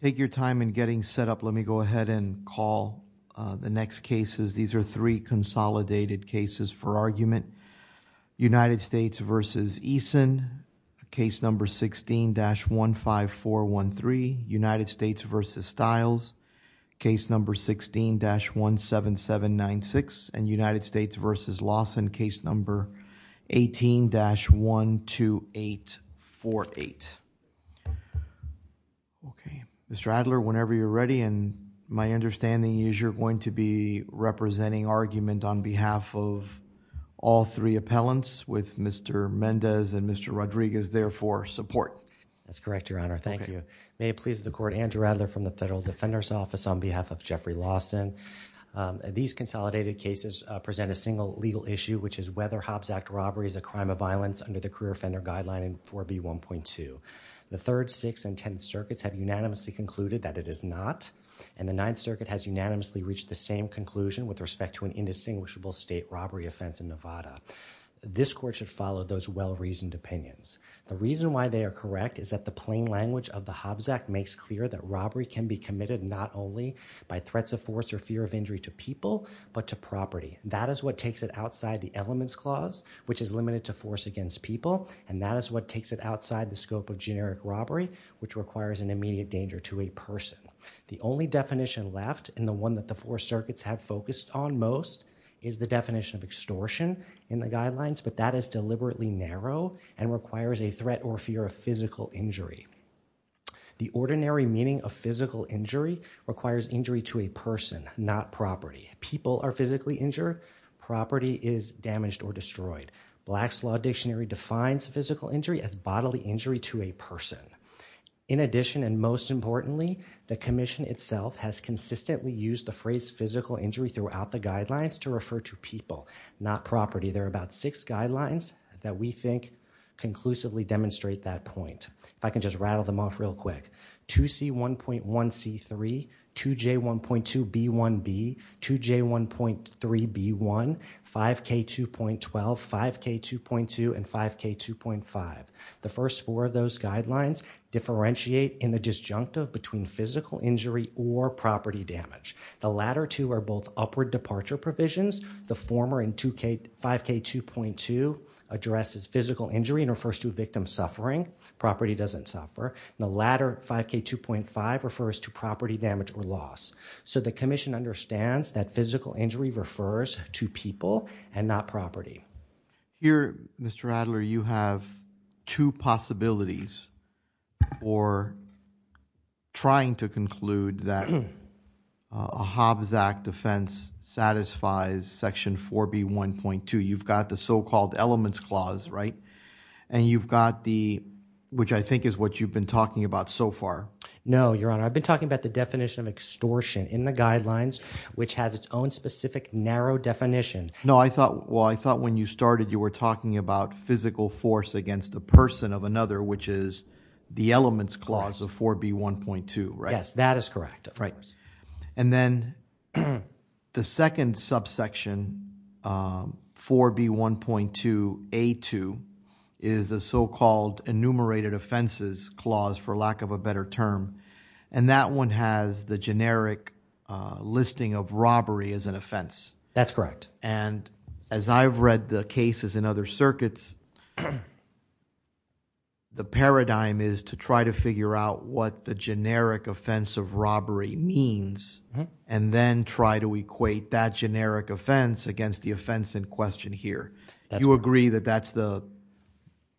Take your time in getting set up. Let me go ahead and call the next cases. These are three consolidated cases for argument. United States v. Eason, case number 16-15413, United States v. Marlon Eason, case number 16-17796, and United States v. Lawson, case number 18-12848. Mr. Adler, whenever you're ready, and my understanding is you're going to be representing argument on behalf of all three appellants with Mr. Mendez and Mr. Rodriguez there for support. That's correct, Your Honor. Thank you. May it please the Court, Andrew Adler from the court on behalf of Jeffrey Lawson. These consolidated cases present a single legal issue, which is whether Hobbs Act robbery is a crime of violence under the career offender guideline in 4B1.2. The Third, Sixth, and Tenth Circuits have unanimously concluded that it is not, and the Ninth Circuit has unanimously reached the same conclusion with respect to an indistinguishable state robbery offense in Nevada. This Court should follow those well-reasoned opinions. The reason why they are correct is that the plain language of the Hobbs Act makes clear that robbery can be committed not only by threats of force or fear of injury to people, but to property. That is what takes it outside the Elements Clause, which is limited to force against people, and that is what takes it outside the scope of generic robbery, which requires an immediate danger to a person. The only definition left, and the one that the four circuits have focused on most, is the definition of extortion in the guidelines, but that is deliberately narrow and requires a threat or fear of physical injury. The ordinary meaning of physical injury requires injury to a person, not property. People are physically injured, property is damaged or destroyed. Black's Law Dictionary defines physical injury as bodily injury to a person. In addition, and most importantly, the Commission itself has consistently used the phrase physical injury throughout the guidelines to refer to people, not property. There are about six I can just rattle them off real quick. 2C1.1C3, 2J1.2B1B, 2J1.3B1, 5K2.12, 5K2.2, and 5K2.5. The first four of those guidelines differentiate in the disjunctive between physical injury or property damage. The latter two are both upward departure provisions. The former in 5K2.2 addresses physical injury and refers to a victim suffering. Property doesn't suffer. The latter, 5K2.5, refers to property damage or loss. The Commission understands that physical injury refers to people and not property. Here, Mr. Adler, you have two possibilities for trying to conclude that a Hobbs Act defense satisfies Section 4B1.2. You've got the so-called Elements Clause, right? And you've got the, which I think is what you've been talking about so far. No, Your Honor. I've been talking about the definition of extortion in the guidelines, which has its own specific narrow definition. No, I thought, well, I thought when you started you were talking about physical force against the person of another, which is the Elements Clause of 4B1.2, right? Yes, that is correct, of course. And then the second subsection, 4B1.2A2, is the so-called Enumerated Offenses Clause, for lack of a better term. And that one has the generic listing of robbery as an offense. That's correct. And as I've read the cases in other circuits, the paradigm is to try to figure out what the generic offense of robbery means, and then try to equate that generic offense against the offense in question here. Do you agree that that's the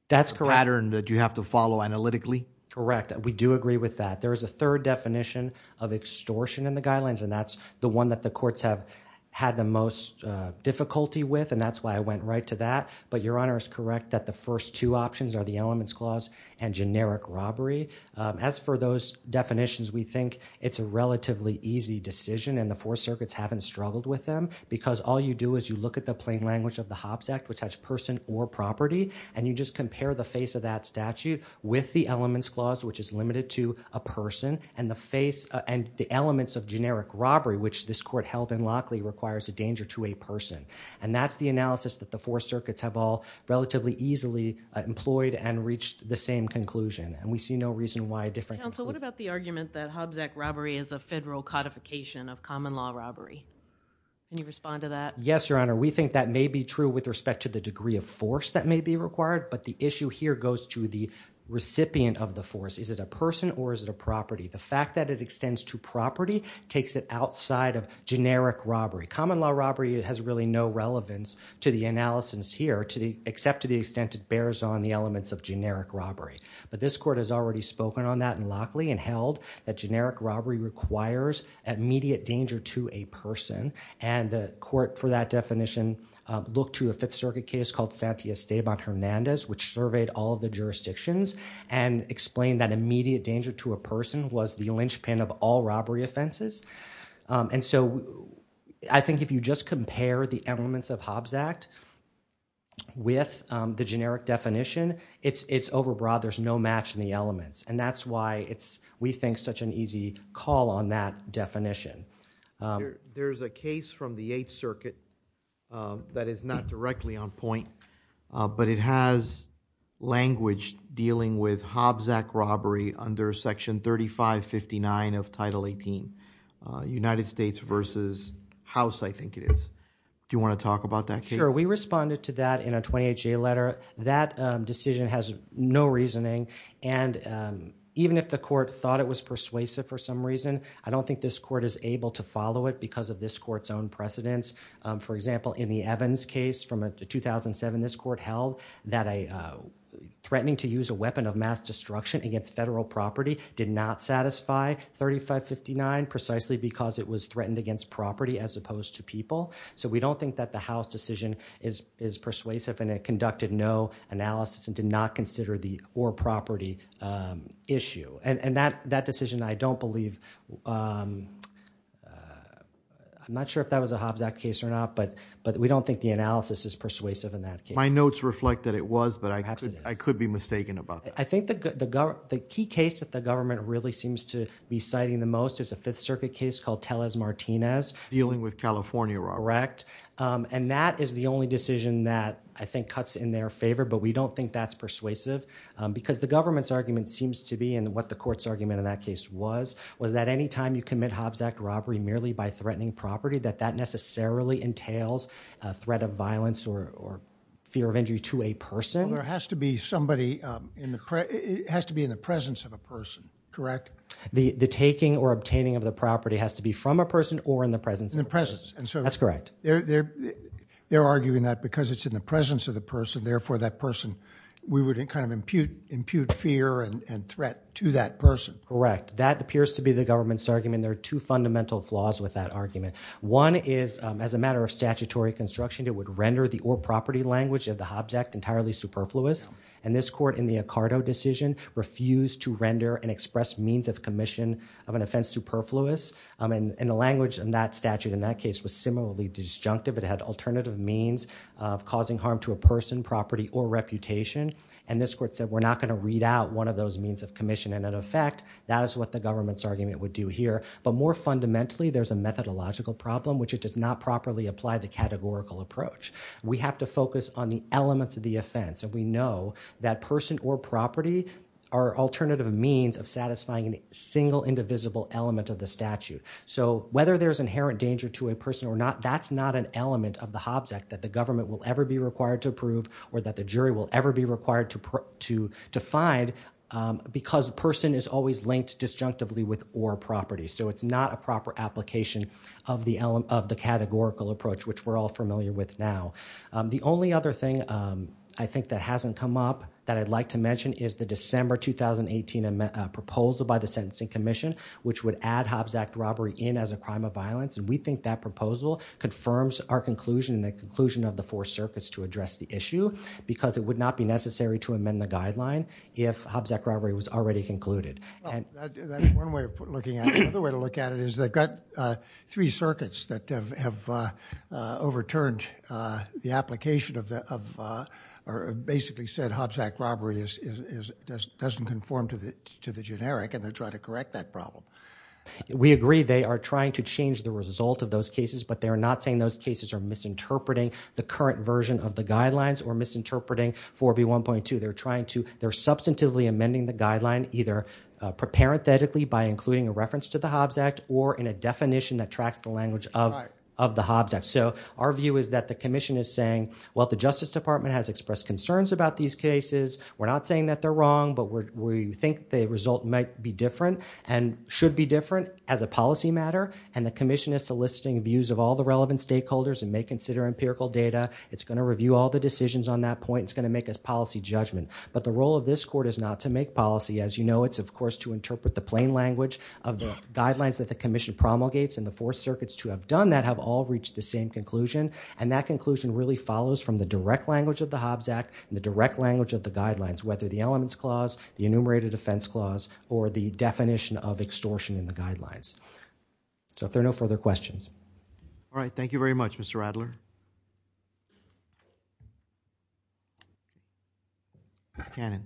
pattern that you have to follow analytically? Correct. We do agree with that. There is a third definition of extortion in the guidelines, and that's the one that the courts have had the most difficulty with, and that's why I went right to that. But Your Honor is correct that the first two options are the Elements Clause and generic robbery. As for those definitions, we think it's a relatively easy decision, and the Fourth Circuit's haven't struggled with them, because all you do is you look at the plain language of the HOPPS Act, which has person or property, and you just compare the face of that statute with the Elements Clause, which is limited to a person, and the face and the elements of generic robbery, which this court held in Lockley requires a danger to a person. And that's the analysis that the Fourth Circuit's have all relatively easily employed and reached the same conclusion, and we see no reason why a different conclusion... Counsel, what about the argument that Hobbs Act robbery is a federal codification of common law robbery? Can you respond to that? Yes, Your Honor. We think that may be true with respect to the degree of force that may be required, but the issue here goes to the recipient of the force. Is it a person or is it a property? The fact that it extends to property takes it outside of generic robbery. Common law robbery has really no relevance to the analysis here, except to the extent it bears on the elements of generic robbery. But this court has already spoken on that in Lockley and held that generic robbery requires immediate danger to a person, and the court, for that definition, looked to a Fifth Circuit case called Santiago Hernandez, which surveyed all of the jurisdictions, and explained that immediate danger to a person was the linchpin of all robbery offenses. And so, I think if you just compare the elements of Hobbs Act with the generic definition, it's overbroad. There's no match in the elements. And that's why it's, we think, such an easy call on that definition. There's a case from the Eighth Circuit that is not directly on point, but it has language dealing with Hobbs Act robbery under Section 3559 of Title 18. United States versus House, I think it is. Do you want to talk about that case? Sure. We responded to that in a 28-J letter. That decision has no reasoning, and even if the court thought it was persuasive for some reason, I don't think this court is able to follow it because of this court's own precedence. For example, in the Evans case from 2007, this court held that threatening to use a weapon of because it was threatened against property as opposed to people. So, we don't think that the House decision is persuasive, and it conducted no analysis and did not consider the or property issue. And that decision, I don't believe, I'm not sure if that was a Hobbs Act case or not, but we don't think the analysis is persuasive in that case. My notes reflect that it was, but I could be mistaken about that. I think the key case that the government really seems to be citing the most is a Fifth Circuit case called Tellez-Martinez. Dealing with California robbery. Correct. And that is the only decision that I think cuts in their favor, but we don't think that's persuasive because the government's argument seems to be, and what the court's argument in that case was, was that anytime you commit Hobbs Act robbery merely by threatening property, that that necessarily entails a threat of violence or fear of injury to a person. Well, there has to be somebody in the, it has to be in the presence of a person, correct? The taking or obtaining of the property has to be from a person or in the presence. In the presence. That's correct. They're arguing that because it's in the presence of the person, therefore that person, we would kind of impute fear and threat to that person. Correct. That appears to be the government's argument. There are two fundamental flaws with that argument. One is, as a matter of statutory construction, it would render the or property language of the Hobbs Act entirely superfluous. And this court in the Accardo decision refused to render and express means of commission of an offense superfluous. And the language in that statute in that case was similarly disjunctive. It had alternative means of causing harm to a person, property, or reputation. And this court said, we're not going to read out one of those means of commission. And in effect, that is what the government's argument would do here. But more fundamentally, there's a methodological problem, which it does not properly apply the categorical approach. We have to focus on the elements of the offense. And we know that person or property are alternative means of satisfying a single indivisible element of the statute. So whether there's inherent danger to a person or not, that's not an element of the Hobbs Act that the government will ever be required to approve or that the jury will ever be required to find because person is always linked disjunctively with or property. So it's not a proper application of the categorical approach, which we're all familiar with now. The only other thing I think that hasn't come up that I'd like to mention is the December 2018 proposal by the Sentencing Commission, which would add Hobbs Act robbery in as a crime of violence. And we think that proposal confirms our conclusion and the conclusion of the four circuits to address the issue because it would not be necessary to amend the guideline if Hobbs Act robbery was already concluded. And that's one way of looking at it. Another way to look at it is they've got three circuits that have overturned the application of, or basically said Hobbs Act robbery doesn't conform to the generic and they're trying to correct that problem. We agree they are trying to change the result of those cases, but they are not saying those cases are misinterpreting the current version of the guidelines or misinterpreting 4B1.2. They're trying to, they're substantively amending the guideline either parenthetically by including a reference to the Hobbs Act or in a definition that tracks the language of the Hobbs Act. So our view is that the commission is saying, well, the Justice Department has expressed concerns about these cases. We're not saying that they're wrong, but we think the result might be different and should be different as a policy matter. And the commission is soliciting views of all the relevant stakeholders and may consider empirical data. It's going to review all the decisions on that point. It's going to make us policy judgment. But the role of this court is not to make policy. As you know, it's of course to interpret the plain language of the guidelines that the commission promulgates and the four circuits to have done that have all reached the same conclusion. And that conclusion really follows from the direct language of the Hobbs Act and the direct language of the guidelines, whether the elements clause, the enumerated offense clause, or the definition of extortion in the guidelines. So if there are no further questions. All right. Thank you very much, Mr. Adler. Ms. Cannon.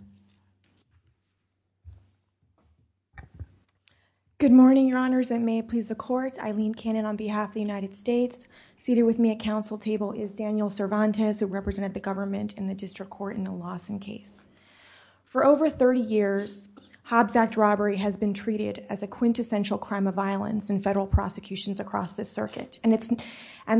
Good morning, Your Honors. And may it please the court, Eileen Cannon on behalf of the United States. Seated with me at council table is Daniel Cervantes, who represented the government in the district court in the Lawson case. For over 30 years, Hobbs Act robbery has been treated as a quintessential crime of violence in federal prosecutions across this circuit. And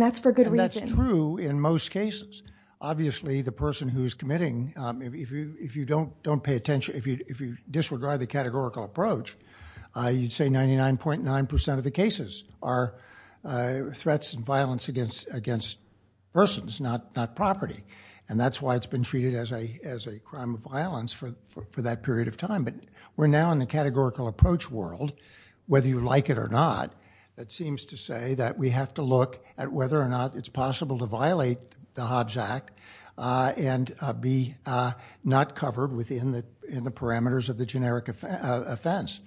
that's for good reason. And that's true in most cases. Obviously, the person who's committing, if you don't pay attention, if you disregard the categorical approach, you'd say 99.9% of the cases are threats and violence against persons, not property. And that's why it's been treated as a crime of violence for that period of time. But we're now in the categorical approach world, whether you like it or not, that seems to say that we have to look at whether or not it's possible to violate the Hobbs Act and be not covered within the parameters of the generic offense.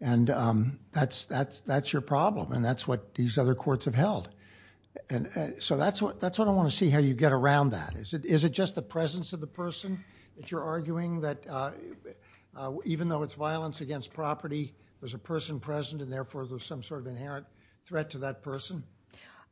And that's your problem. And that's what these other courts have held. And so that's what I want to see how you get around that. Is it just the presence of the person that you're arguing that, even though it's violence against property, there's a person present and therefore there's some sort of inherent threat to that person?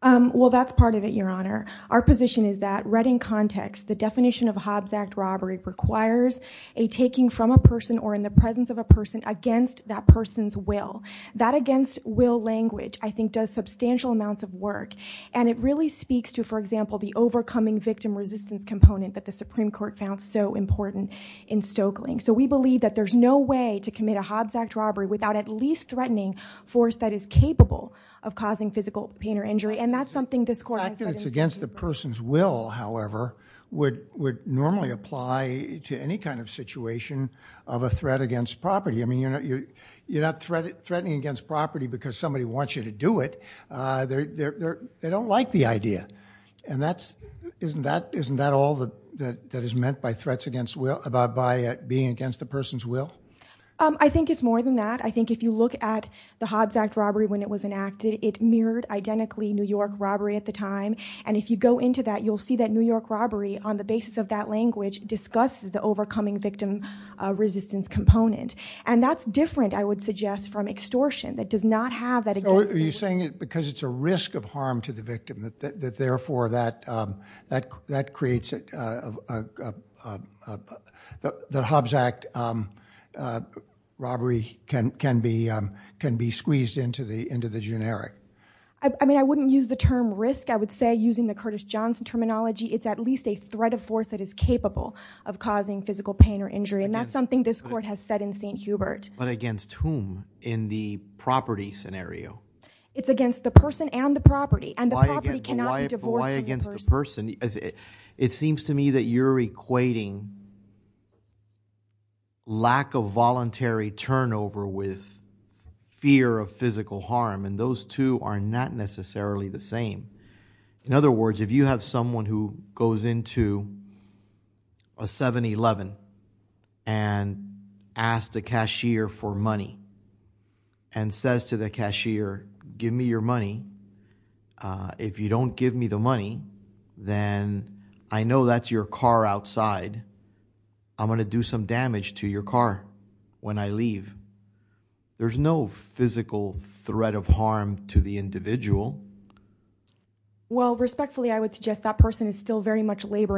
Well, that's part of it, Your Honor. Our position is that, read in context, the definition of Hobbs Act robbery requires a taking from a person or in the presence of a person against that person's will. That against will language, I think, does substantial amounts of work. And it really speaks to, for example, the overcoming victim resistance component that the Supreme Court found so important in Stokeling. So we believe that there's no way to commit a Hobbs Act robbery without at least threatening force that is capable of causing physical pain or injury. And that's something this court has said in the Supreme Court. The fact that it's against the person's will, however, would normally apply to any kind of situation of a threat against property. I mean, you're not threatening against property because somebody wants you to do it. They don't like the idea. And isn't that all that is meant by being against the person's will? I think it's more than that. I think if you look at the Hobbs Act robbery when it was enacted, it mirrored, identically, New York robbery at the time. And if you go into that, you'll see that New York robbery, on the basis of that language, discusses the overcoming victim resistance component. And that's different, I would suggest, from extortion. That does not have that. Are you saying that because it's a risk of harm to the victim, that, therefore, the Hobbs Act robbery can be squeezed into the generic? I mean, I wouldn't use the term risk. I would say, using the Curtis Johnson terminology, it's at least a threat of force that is capable of causing physical pain or injury. And that's something this court has said in St. Hubert. But against whom in the property scenario? It's against the person and the property. And the property cannot be divorced from the person. But why against the person? It seems to me that you're equating lack of voluntary turnover with fear of physical harm. And those two are not necessarily the same. In other words, if you have someone who goes into a 7-11 and asks the cashier for money, and says to the cashier, give me your money. If you don't give me the money, then I know that's your car outside. I'm going to do some damage to your car when I leave. There's no physical threat of harm to the individual. Well, respectfully, I would suggest that person is still very much That's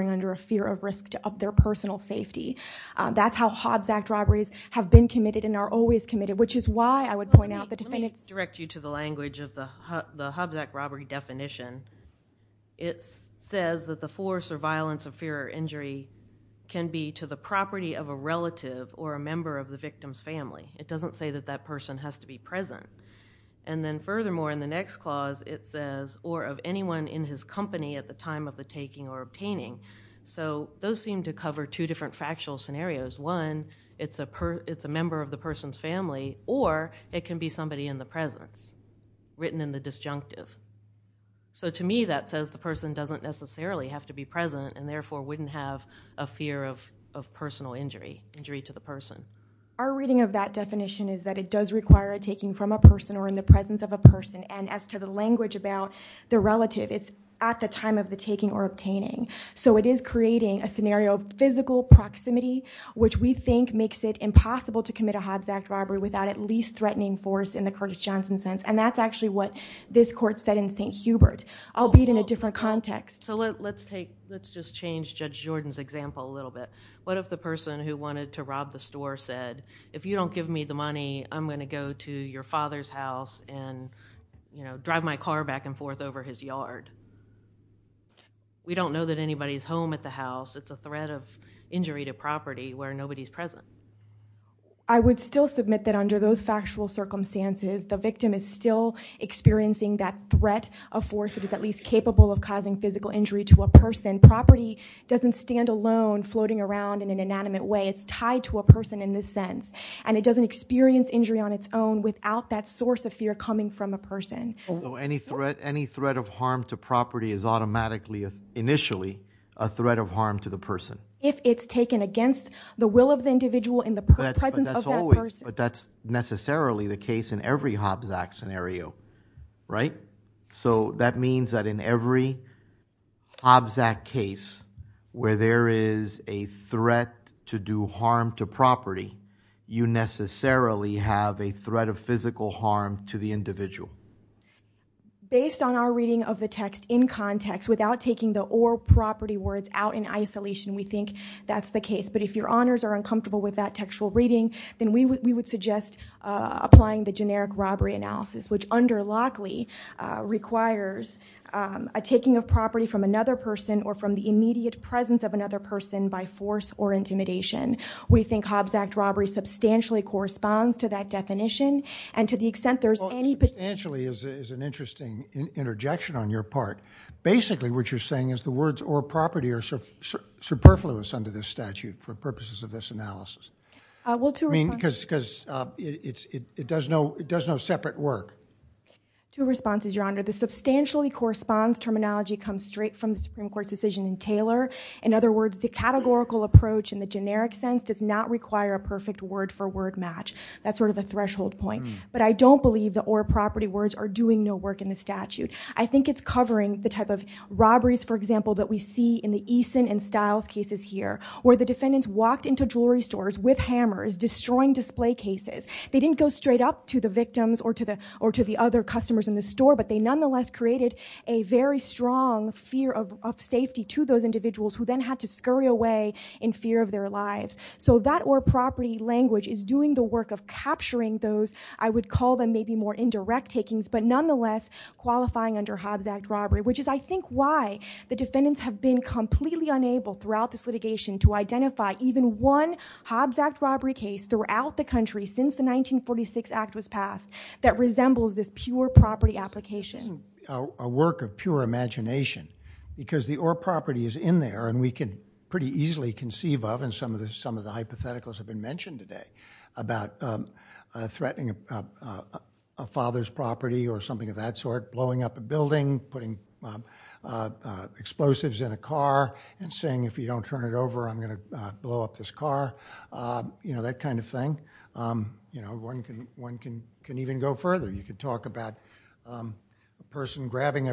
how Hobbs Act robberies have been committed and are always committed. Which is why I would point out the defendant's- Let me direct you to the language of the Hobbs Act robbery definition. It says that the force or violence of fear or injury can be to the property of a relative or a member of the victim's family. It doesn't say that that person has to be present. And then furthermore, in the next clause, it says, or of anyone in his company at the time of the taking or obtaining. So those seem to cover two different factual scenarios. One, it's a member of the person's family, or it can be somebody in the presence, written in the disjunctive. So to me, that says the person doesn't necessarily have to be present and therefore wouldn't have a fear of personal injury to the person. Our reading of that definition is that it does require a taking from a person or in the presence of a person. And as to the language about the relative, it's at the time of the taking or obtaining. So it is creating a scenario of physical proximity, which we think makes it impossible to commit a Hobbs Act robbery without at least threatening force in the Curtis Johnson sense. And that's actually what this court said in St. Hubert, albeit in a different context. So let's just change Judge Jordan's example a little bit. What if the person who wanted to rob the store said, if you don't give me the money, I'm going to go to your father's house and drive my car back and forth over his yard? We don't know that anybody's home at the house. It's a threat of injury to property where nobody's present. I would still submit that under those factual circumstances, the victim is still experiencing that threat of force that is at least capable of causing physical injury to a person. Property doesn't stand alone floating around in an inanimate way. It's tied to a person in this sense. And it doesn't experience injury on its own without that source of fear coming from a person. So any threat of harm to property is automatically, initially, a threat of harm to the person? If it's taken against the will of the individual in the presence of that person. But that's necessarily the case in every Hobbs Act scenario, right? So that means that in every Hobbs Act case where there is a threat to do harm to property, you necessarily have a threat of physical harm to the individual. Based on our reading of the text in context, without taking the or property words out in isolation, we think that's the case. But if your honors are uncomfortable with that textual reading, then we would suggest applying the generic robbery analysis, which under Lockley requires a taking of property from another person or from the immediate presence of another person by force or intimidation. We think Hobbs Act robbery substantially corresponds to that definition. And to the extent there's any... There's an interesting interjection on your part. Basically, what you're saying is the words or property are superfluous under this statute for purposes of this analysis. I mean, because it does no separate work. Two responses, your honor. The substantially corresponds terminology comes straight from the Supreme Court's decision in Taylor. In other words, the categorical approach in the generic sense does not require a perfect word for word match. That's sort of a threshold point. But I don't believe the or property words are doing no work in the statute. I think it's covering the type of robberies, for example, that we see in the Eason and Stiles cases here, where the defendants walked into jewelry stores with hammers, destroying display cases. They didn't go straight up to the victims or to the other customers in the store, but they nonetheless created a very strong fear of safety to those individuals who then had to scurry away in fear of their lives. So that or property language is doing the work of capturing those, I would call them maybe more indirect takings, but nonetheless qualifying under Hobbs Act robbery, which is, I think, why the defendants have been completely unable throughout this litigation to identify even one Hobbs Act robbery case throughout the country since the 1946 Act was passed that resembles this pure property application. It's a work of pure imagination because the or property is in there and we can pretty easily conceive of, and some of the hypotheticals have been mentioned today, about threatening a father's property or something of that sort, blowing up a building, putting explosives in a car, and saying, if you don't turn it over, I'm going to blow up this car, that kind of thing. One can even go further. You could talk about a person grabbing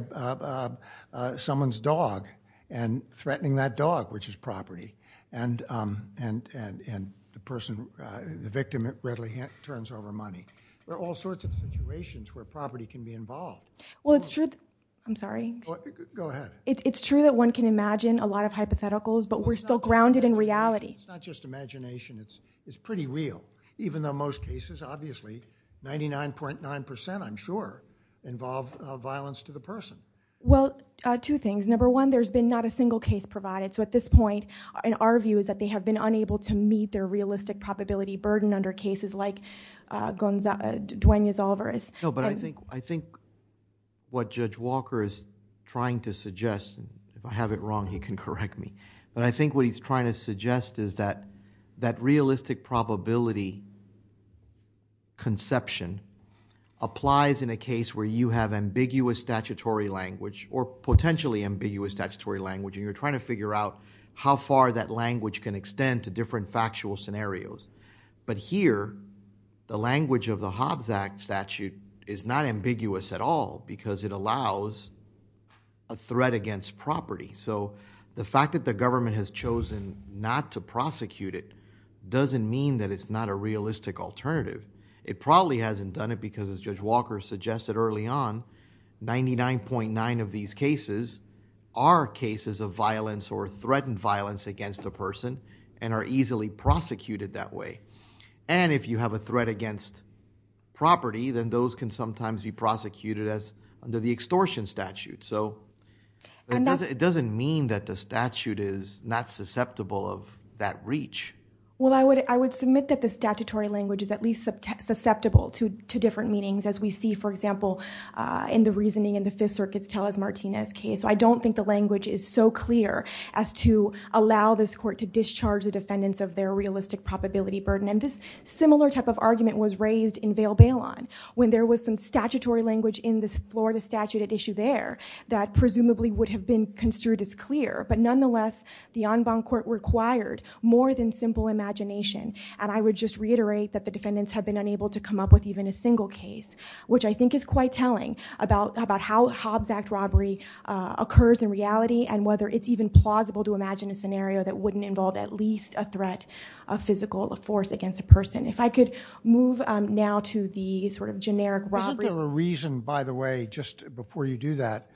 someone's dog and threatening that dog, which is property, and the person, the victim readily turns over money. There are all sorts of situations where property can be involved. Well, it's true, I'm sorry. Go ahead. It's true that one can imagine a lot of hypotheticals, but we're still grounded in reality. It's not just imagination. It's pretty real, even though most cases, obviously 99.9%, I'm sure, involve violence to the person. Well, two things. Number one, there's been not a single case provided. At this point, our view is that they have been unable to meet their realistic probability burden under cases like Dwayne Yazolver's. No, but I think what Judge Walker is trying to suggest, if I have it wrong, he can correct me, but I think what he's trying to suggest is that that realistic probability conception applies in a case where you have ambiguous statutory language or potentially ambiguous statutory language, and you're trying to figure out how far that language can extend to different factual scenarios. But here, the language of the Hobbs Act statute is not ambiguous at all because it allows a threat against property. The fact that the government has chosen not to prosecute it doesn't mean that it's not a realistic alternative. It probably hasn't done it because, as Judge Walker suggested early on, 99.9 of these cases are cases of violence or threatened violence against a person and are easily prosecuted that way. And if you have a threat against property, then those can sometimes be prosecuted as under the extortion statute. It doesn't mean that the statute is not susceptible of that reach. Well, I would submit that the statutory language is at least susceptible to different meanings as we see, for example, in the reasoning in the Fifth Circuit's Talas-Martinez case. So I don't think the language is so clear as to allow this court to discharge the defendants of their realistic probability burden. And this similar type of argument was raised in Vail-Bailon when there was some statutory language in this Florida statute at issue there that presumably would have been construed as clear. But nonetheless, the en banc court required more than simple imagination. And I would just reiterate that the defendants have been unable to come up with even a single case, which I think is quite telling about how Hobbs Act robbery occurs in reality and whether it's even plausible to imagine a scenario that wouldn't involve at least a threat of physical force against a person. If I could move now to the sort of generic robbery. Isn't there a reason, by the way, just before you do that,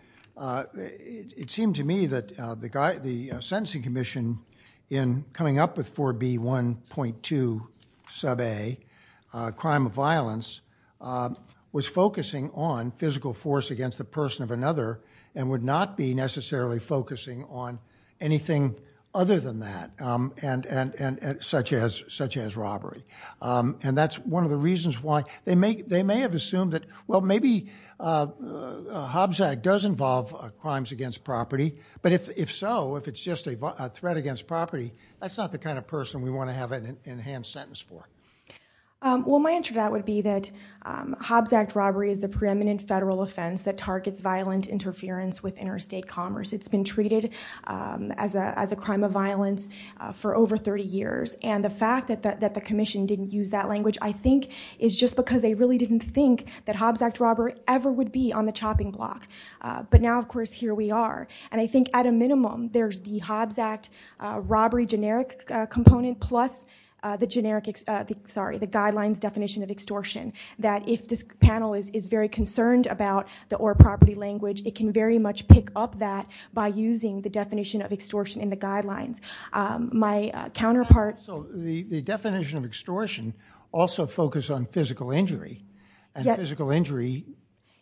it seemed to me that the sentencing commission in coming up with 4B1.2 sub A, crime of violence, was focusing on physical force against the person of another and would not be necessarily focusing on anything other than that, such as robbery. And that's one of the reasons why they may have assumed that, well, maybe Hobbs Act does involve crimes against property. But if so, if it's just a threat against property, that's not the kind of person we want to have an enhanced sentence for. Well, my answer to that would be that Hobbs Act robbery is the preeminent federal offense that targets violent interference with interstate commerce. It's been treated as a crime of violence for over 30 years. And the fact that the commission didn't use that language, I think, is just because they really didn't think that Hobbs Act robbery ever would be on the chopping block. But now, of course, here we are. And I think at a minimum, there's the Hobbs Act robbery generic component plus the guidelines definition of extortion. That if this panel is very concerned about the or property language, it can very much pick up that by using the definition of extortion in the guidelines. My counterpart... So the definition of extortion also focus on physical injury. And physical injury,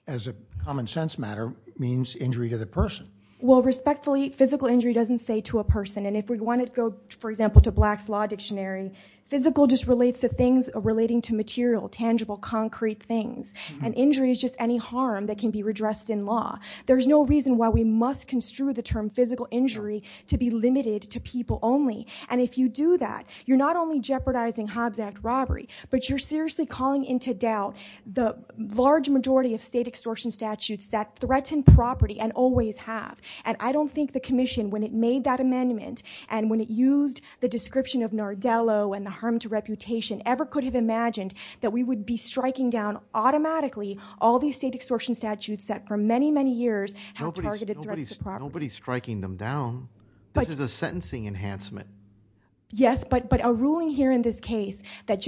as a common sense matter, means injury to the person. Respectfully, physical injury doesn't say to a person. And if we want to go, for example, to Black's Law Dictionary, physical just relates to things relating to material, tangible, concrete things. And injury is just any harm that can be redressed in law. There's no reason why we must construe the term physical injury to be limited to people only. And if you do that, you're not only jeopardizing Hobbs Act robbery, but you're seriously calling into doubt the large majority of state extortion statutes that threaten property and always have. And I don't think the commission, when it made that amendment, and when it used the description of Nardello and the harm to reputation ever could have imagined that we would be striking down automatically all these state extortion statutes that for many, many years have targeted threats to property. Nobody's striking them down. This is a sentencing enhancement. Yes, but a ruling here in this case that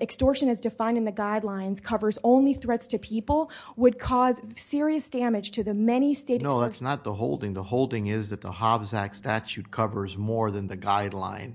extortion as defined in the guidelines covers only threats to people would cause serious damage to the many state... No, that's not the holding. The holding is that the Hobbs Act statute covers more than the guideline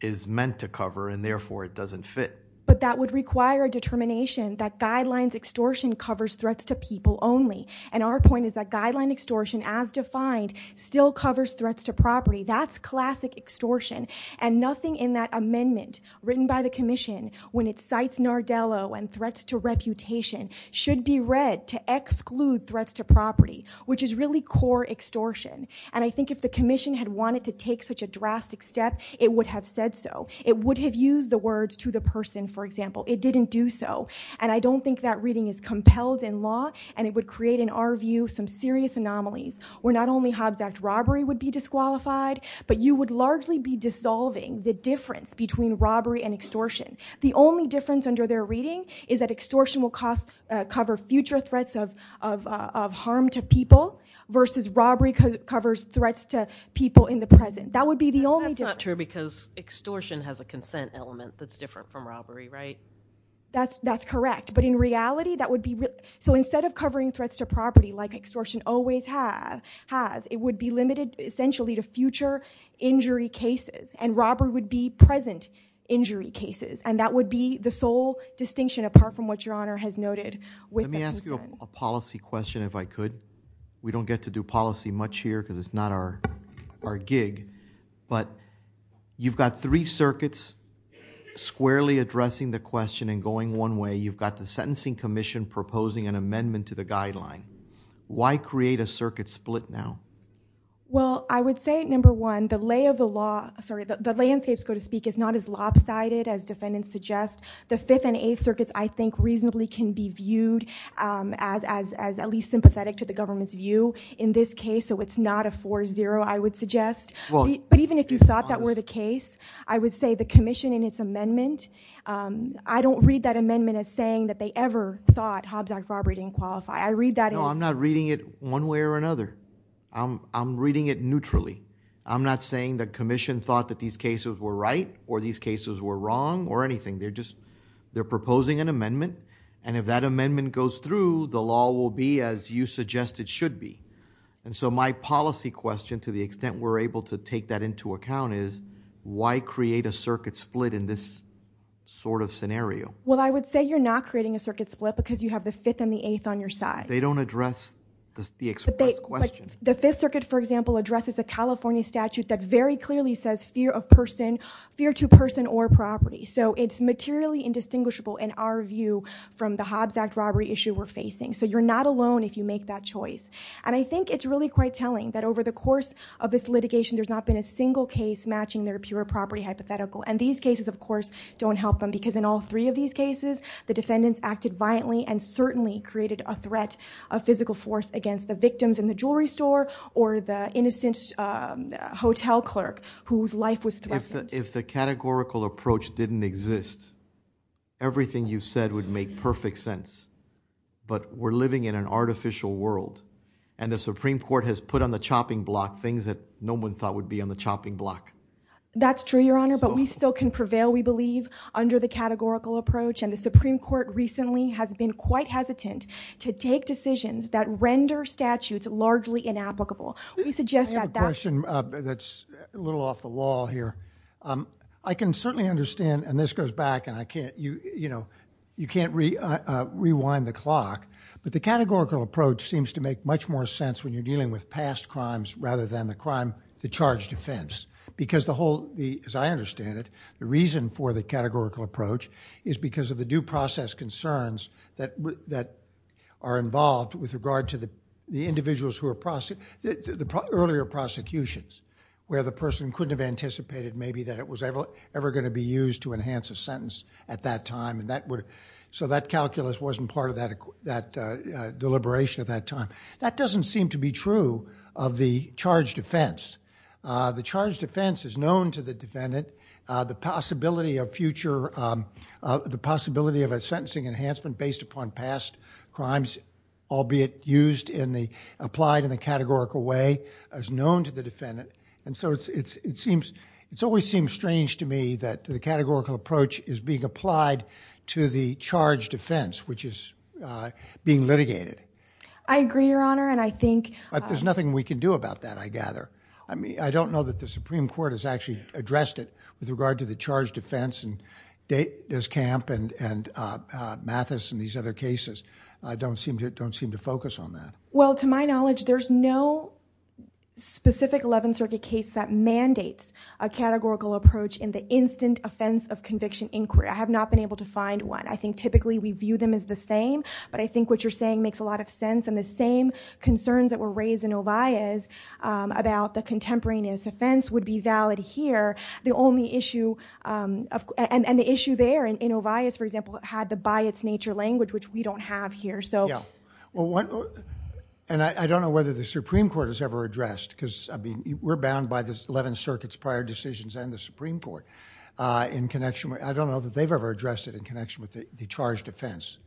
is meant to cover, and therefore it doesn't fit. But that would require a determination that guidelines extortion covers threats to people only. And our point is that guideline extortion as defined still covers threats to property. That's classic extortion. And nothing in that amendment written by the commission when it cites Nardello and threats to reputation should be read to exclude threats to property, which is really core extortion. And I think if the commission had wanted to take such a drastic step, it would have said so. It would have used the words to the person, for example. It didn't do so. And I don't think that reading is compelled in law, and it would create, in our view, some serious anomalies where not only Hobbs Act robbery would be disqualified, but you would largely be dissolving the difference between robbery and extortion. The only difference under their reading is that extortion will cover future threats of harm to people versus robbery covers threats to people in the present. That would be the only difference. That's not true because extortion has a consent element that's different from robbery, right? That's correct. But in reality, that would be... So instead of covering threats to property like extortion always has, it would be limited essentially to future injury cases. And robbery would be present injury cases. And that would be the sole distinction apart from what Your Honor has noted with the concern. A policy question, if I could. We don't get to do policy much here because it's not our gig. But you've got three circuits squarely addressing the question and going one way. You've got the Sentencing Commission proposing an amendment to the guideline. Why create a circuit split now? Well, I would say, number one, the lay of the law... Sorry, the landscape, so to speak, is not as lopsided as defendants suggest. The fifth and eighth circuits, I think, reasonably can be viewed as at least sympathetic to the government's view in this case. So it's not a 4-0, I would suggest. But even if you thought that were the case, I would say the commission in its amendment... I don't read that amendment as saying that they ever thought Hobbs Act robbery didn't qualify. I read that as... No, I'm not reading it one way or another. I'm reading it neutrally. I'm not saying the commission thought that these cases were right or these cases were wrong or anything. They're proposing an amendment. And if that amendment goes through, the law will be as you suggest it should be. And so my policy question, to the extent we're able to take that into account, is why create a circuit split in this sort of scenario? Well, I would say you're not creating a circuit split because you have the fifth and the eighth on your side. They don't address the express question. The Fifth Circuit, for example, addresses a California statute that very clearly says fear of person, fear to person or property. So it's materially indistinguishable in our view from the Hobbs Act robbery issue we're facing. So you're not alone if you make that choice. And I think it's really quite telling that over the course of this litigation, there's not been a single case matching their pure property hypothetical. And these cases, of course, don't help them because in all three of these cases, the defendants acted violently and certainly created a threat of physical force against the victims in the jewelry store or the innocent hotel clerk whose life was threatened. If the categorical approach didn't exist, everything you've said would make perfect sense. But we're living in an artificial world and the Supreme Court has put on the chopping block things that no one thought would be on the chopping block. That's true, Your Honor. But we still can prevail, we believe, under the categorical approach. And the Supreme Court recently has been quite hesitant to take decisions that render statutes largely inapplicable. We suggest that that... I have a question that's a little off the law here. I can certainly understand, and this goes back, and you can't rewind the clock, but the categorical approach seems to make much more sense when you're dealing with past crimes rather than the charge defense. Because the whole, as I understand it, the reason for the categorical approach is because of the due process concerns that are involved with regard to the individuals who are prosecuted, the earlier prosecutions where the person couldn't have anticipated maybe that it was ever gonna be used to enhance a sentence at that time. So that calculus wasn't part of that deliberation at that time. That doesn't seem to be true of the charge defense. The charge defense is known to the defendant. The possibility of a sentencing enhancement based upon past crimes, albeit applied in the categorical way, is known to the defendant. And so it always seems strange to me that the categorical approach is being applied to the charge defense, which is being litigated. I agree, Your Honor, and I think... But there's nothing we can do about that, I gather. I don't know that the Supreme Court has actually addressed it with regard to the charge defense and DesCamp and Mathis and these other cases don't seem to focus on that. Well, to my knowledge, there's no specific 11th Circuit case that mandates a categorical approach in the instant offense of conviction inquiry. I have not been able to find one. I think typically we view them as the same, but I think what you're saying makes a lot of sense. And the same concerns that were raised in Ovallez about the contemporaneous offense would be valid here. And the issue there in Ovallez, for example, had the by its nature language, which we don't have here. Yeah. And I don't know whether the Supreme Court has ever addressed, because we're bound by the 11th Circuit's prior decisions and the Supreme Court in connection. I don't know that they've ever addressed it in connection with the charge defense.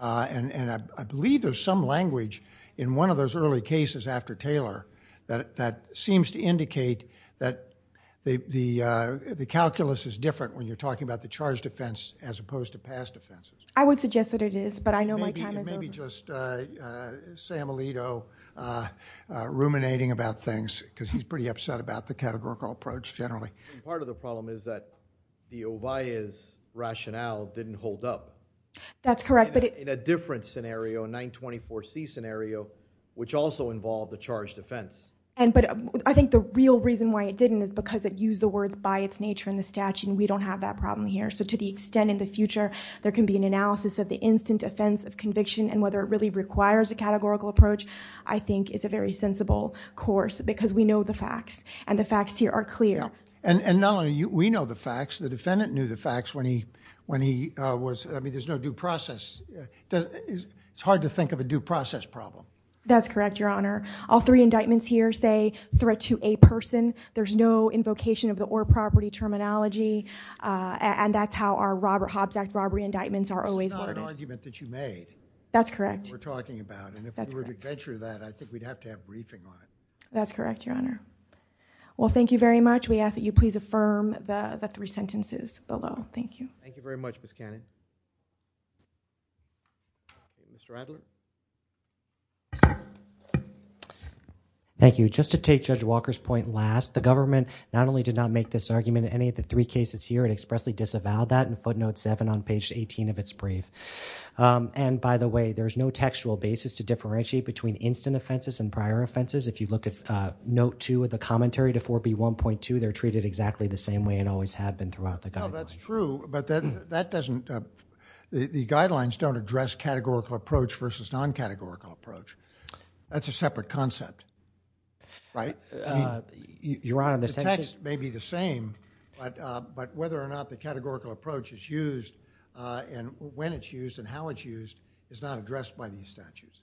And I believe there's some language in one of those early cases after Taylor that seems to indicate that the calculus is different when you're talking about the charge defense as opposed to past offenses. I would suggest that it is, but I know my time is over. Maybe just Sam Alito ruminating about things, because he's pretty upset about the categorical approach generally. Part of the problem is that the Ovallez rationale didn't hold up. That's correct. In a different scenario, a 924C scenario, which also involved the charge defense. But I think the real reason why it didn't is because it used the words by its nature in the statute, and we don't have that problem here. So to the extent in the future there can be an analysis of the instant offense of conviction and whether it really requires a categorical approach, I think is a very sensible course because we know the facts, and the facts here are clear. And not only we know the facts, the defendant knew the facts when he was, I mean, there's no due process. It's hard to think of a due process problem. That's correct, Your Honor. All three indictments here say threat to a person. There's no invocation of the or property terminology. And that's how our Hobbs Act robbery indictments are always loaded. It's not an argument that you made. That's correct. We're talking about. And if we were to venture that, I think we'd have to have briefing on it. That's correct, Your Honor. Well, thank you very much. We ask that you please affirm the three sentences below. Thank you. Thank you very much, Ms. Cannon. Mr. Adler. Thank you. Just to take Judge Walker's point last, the government not only did not make this argument in any of the three cases here, it expressly disavowed that. And footnote seven on page 18 of its brief. And by the way, there's no textual basis to differentiate between instant offenses and prior offenses. If you look at note two of the commentary to 4B1.2, they're treated exactly the same way and always have been throughout the guidelines. No, that's true. But that doesn't, the guidelines don't address categorical approach versus non-categorical approach. That's a separate concept, right? Your Honor, the text may be the same. But whether or not the categorical approach is used and when it's used and how it's used is not addressed by these statutes.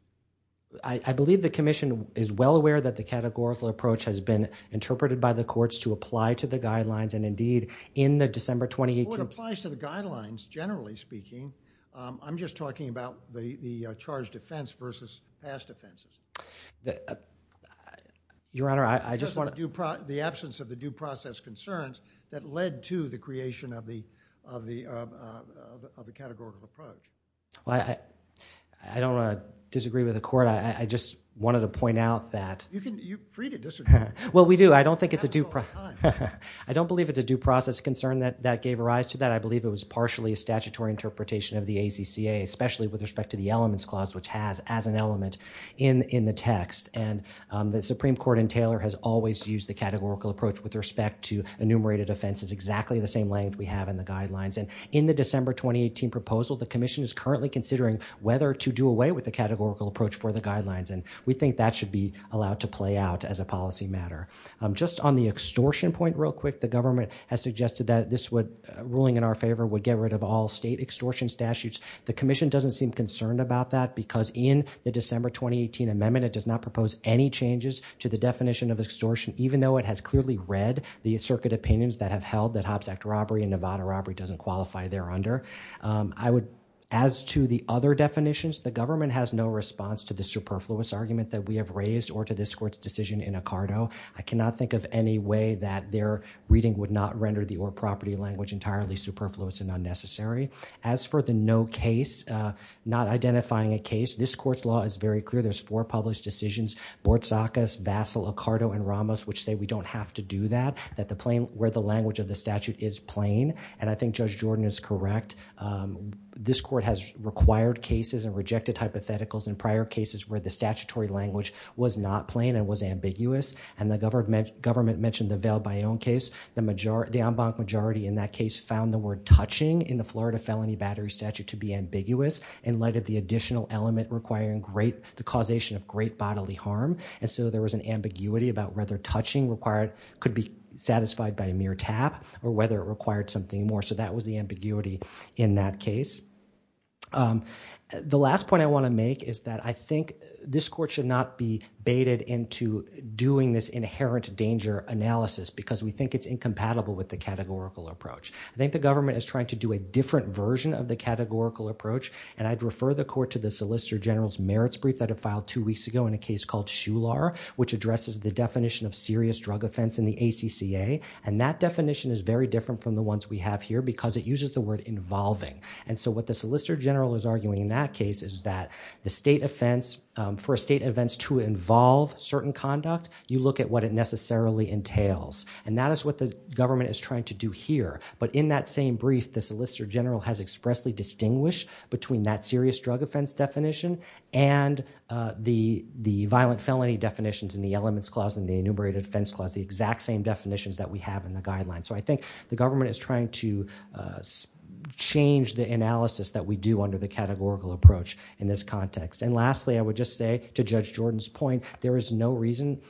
I believe the commission is well aware that the categorical approach has been interpreted by the courts to apply to the guidelines and indeed in the December 2018- Well, it applies to the guidelines, generally speaking. I'm just talking about the charged offense versus past offenses. Your Honor, I just want to- The absence of the due process concerns, that led to the creation of the categorical approach. Well, I don't want to disagree with the court. I just wanted to point out that- You can, you're free to disagree. Well, we do. I don't think it's a due process- I don't believe it's a due process concern that that gave rise to that. I believe it was partially a statutory interpretation of the ACCA, especially with respect to the elements clause, which has as an element in the text. And the Supreme Court in Taylor has always used the categorical approach with respect to enumerated offenses, exactly the same length we have in the guidelines. And in the December 2018 proposal, the commission is currently considering whether to do away with the categorical approach for the guidelines. And we think that should be allowed to play out as a policy matter. Just on the extortion point real quick, the government has suggested that this would- ruling in our favor would get rid of all state extortion statutes. The commission doesn't seem concerned about that because in the December 2018 amendment, it does not propose any changes to the definition of extortion, even though it has clearly read the circuit opinions that have held that Hobbs Act robbery and Nevada robbery doesn't qualify there under. I would- as to the other definitions, the government has no response to the superfluous argument that we have raised or to this court's decision in Ocado. I cannot think of any way that their reading would not render the or property language entirely superfluous and unnecessary. As for the no case, not identifying a case, this court's law is very clear. There's four published decisions, Bortzacus, Vassal, Ocado, and Ramos, which say we don't have to do that, that the plain- where the language of the statute is plain. And I think Judge Jordan is correct. This court has required cases and rejected hypotheticals in prior cases where the statutory language was not plain and was ambiguous. And the government- government mentioned the Vail Bayon case. The majority- the en banc majority in that case found the word touching in the Florida felony battery statute to be ambiguous in light of the additional element requiring great- the causation of great bodily harm. And so there was an ambiguity about whether touching required- could be satisfied by a mere tap or whether it required something more. So that was the ambiguity in that case. The last point I want to make is that I think this court should not be baited into doing this inherent danger analysis because we think it's incompatible with the categorical approach. I think the government is trying to do a different version of the categorical approach. And I'd refer the court to the Solicitor General's merits brief that it filed two weeks ago in a case called Shular, which addresses the definition of serious drug offense in the ACCA. And that definition is very different from the ones we have here because it uses the word involving. And so what the Solicitor General is arguing in that case is that the state offense- for a state offense to involve certain conduct, you look at what it necessarily entails. And that is what the government is trying to do here. But in that same brief, the Solicitor General has expressly distinguished between that serious drug offense definition and the violent felony definitions in the Elements Clause and the Enumerated Offense Clause, the exact same definitions that we have in the guidelines. So I think the government is trying to change the analysis that we do under the categorical approach in this context. And lastly, I would just say, to Judge Jordan's point, there is no reason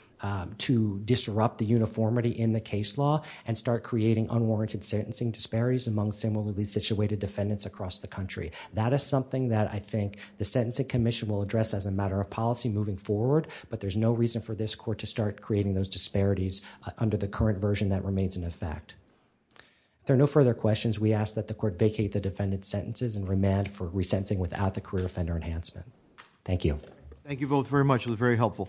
to disrupt the uniformity in the case law and start creating unwarranted sentencing disparities among similarly situated defendants across the country. That is something that I think the Sentencing Commission will address as a matter of policy moving forward. But there's no reason for this Court to start creating those disparities under the current version that remains in effect. If there are no further questions, we ask that the Court vacate the defendant's sentences and remand for resentencing without the career offender enhancement. Thank you. Thank you both very much. It was very helpful.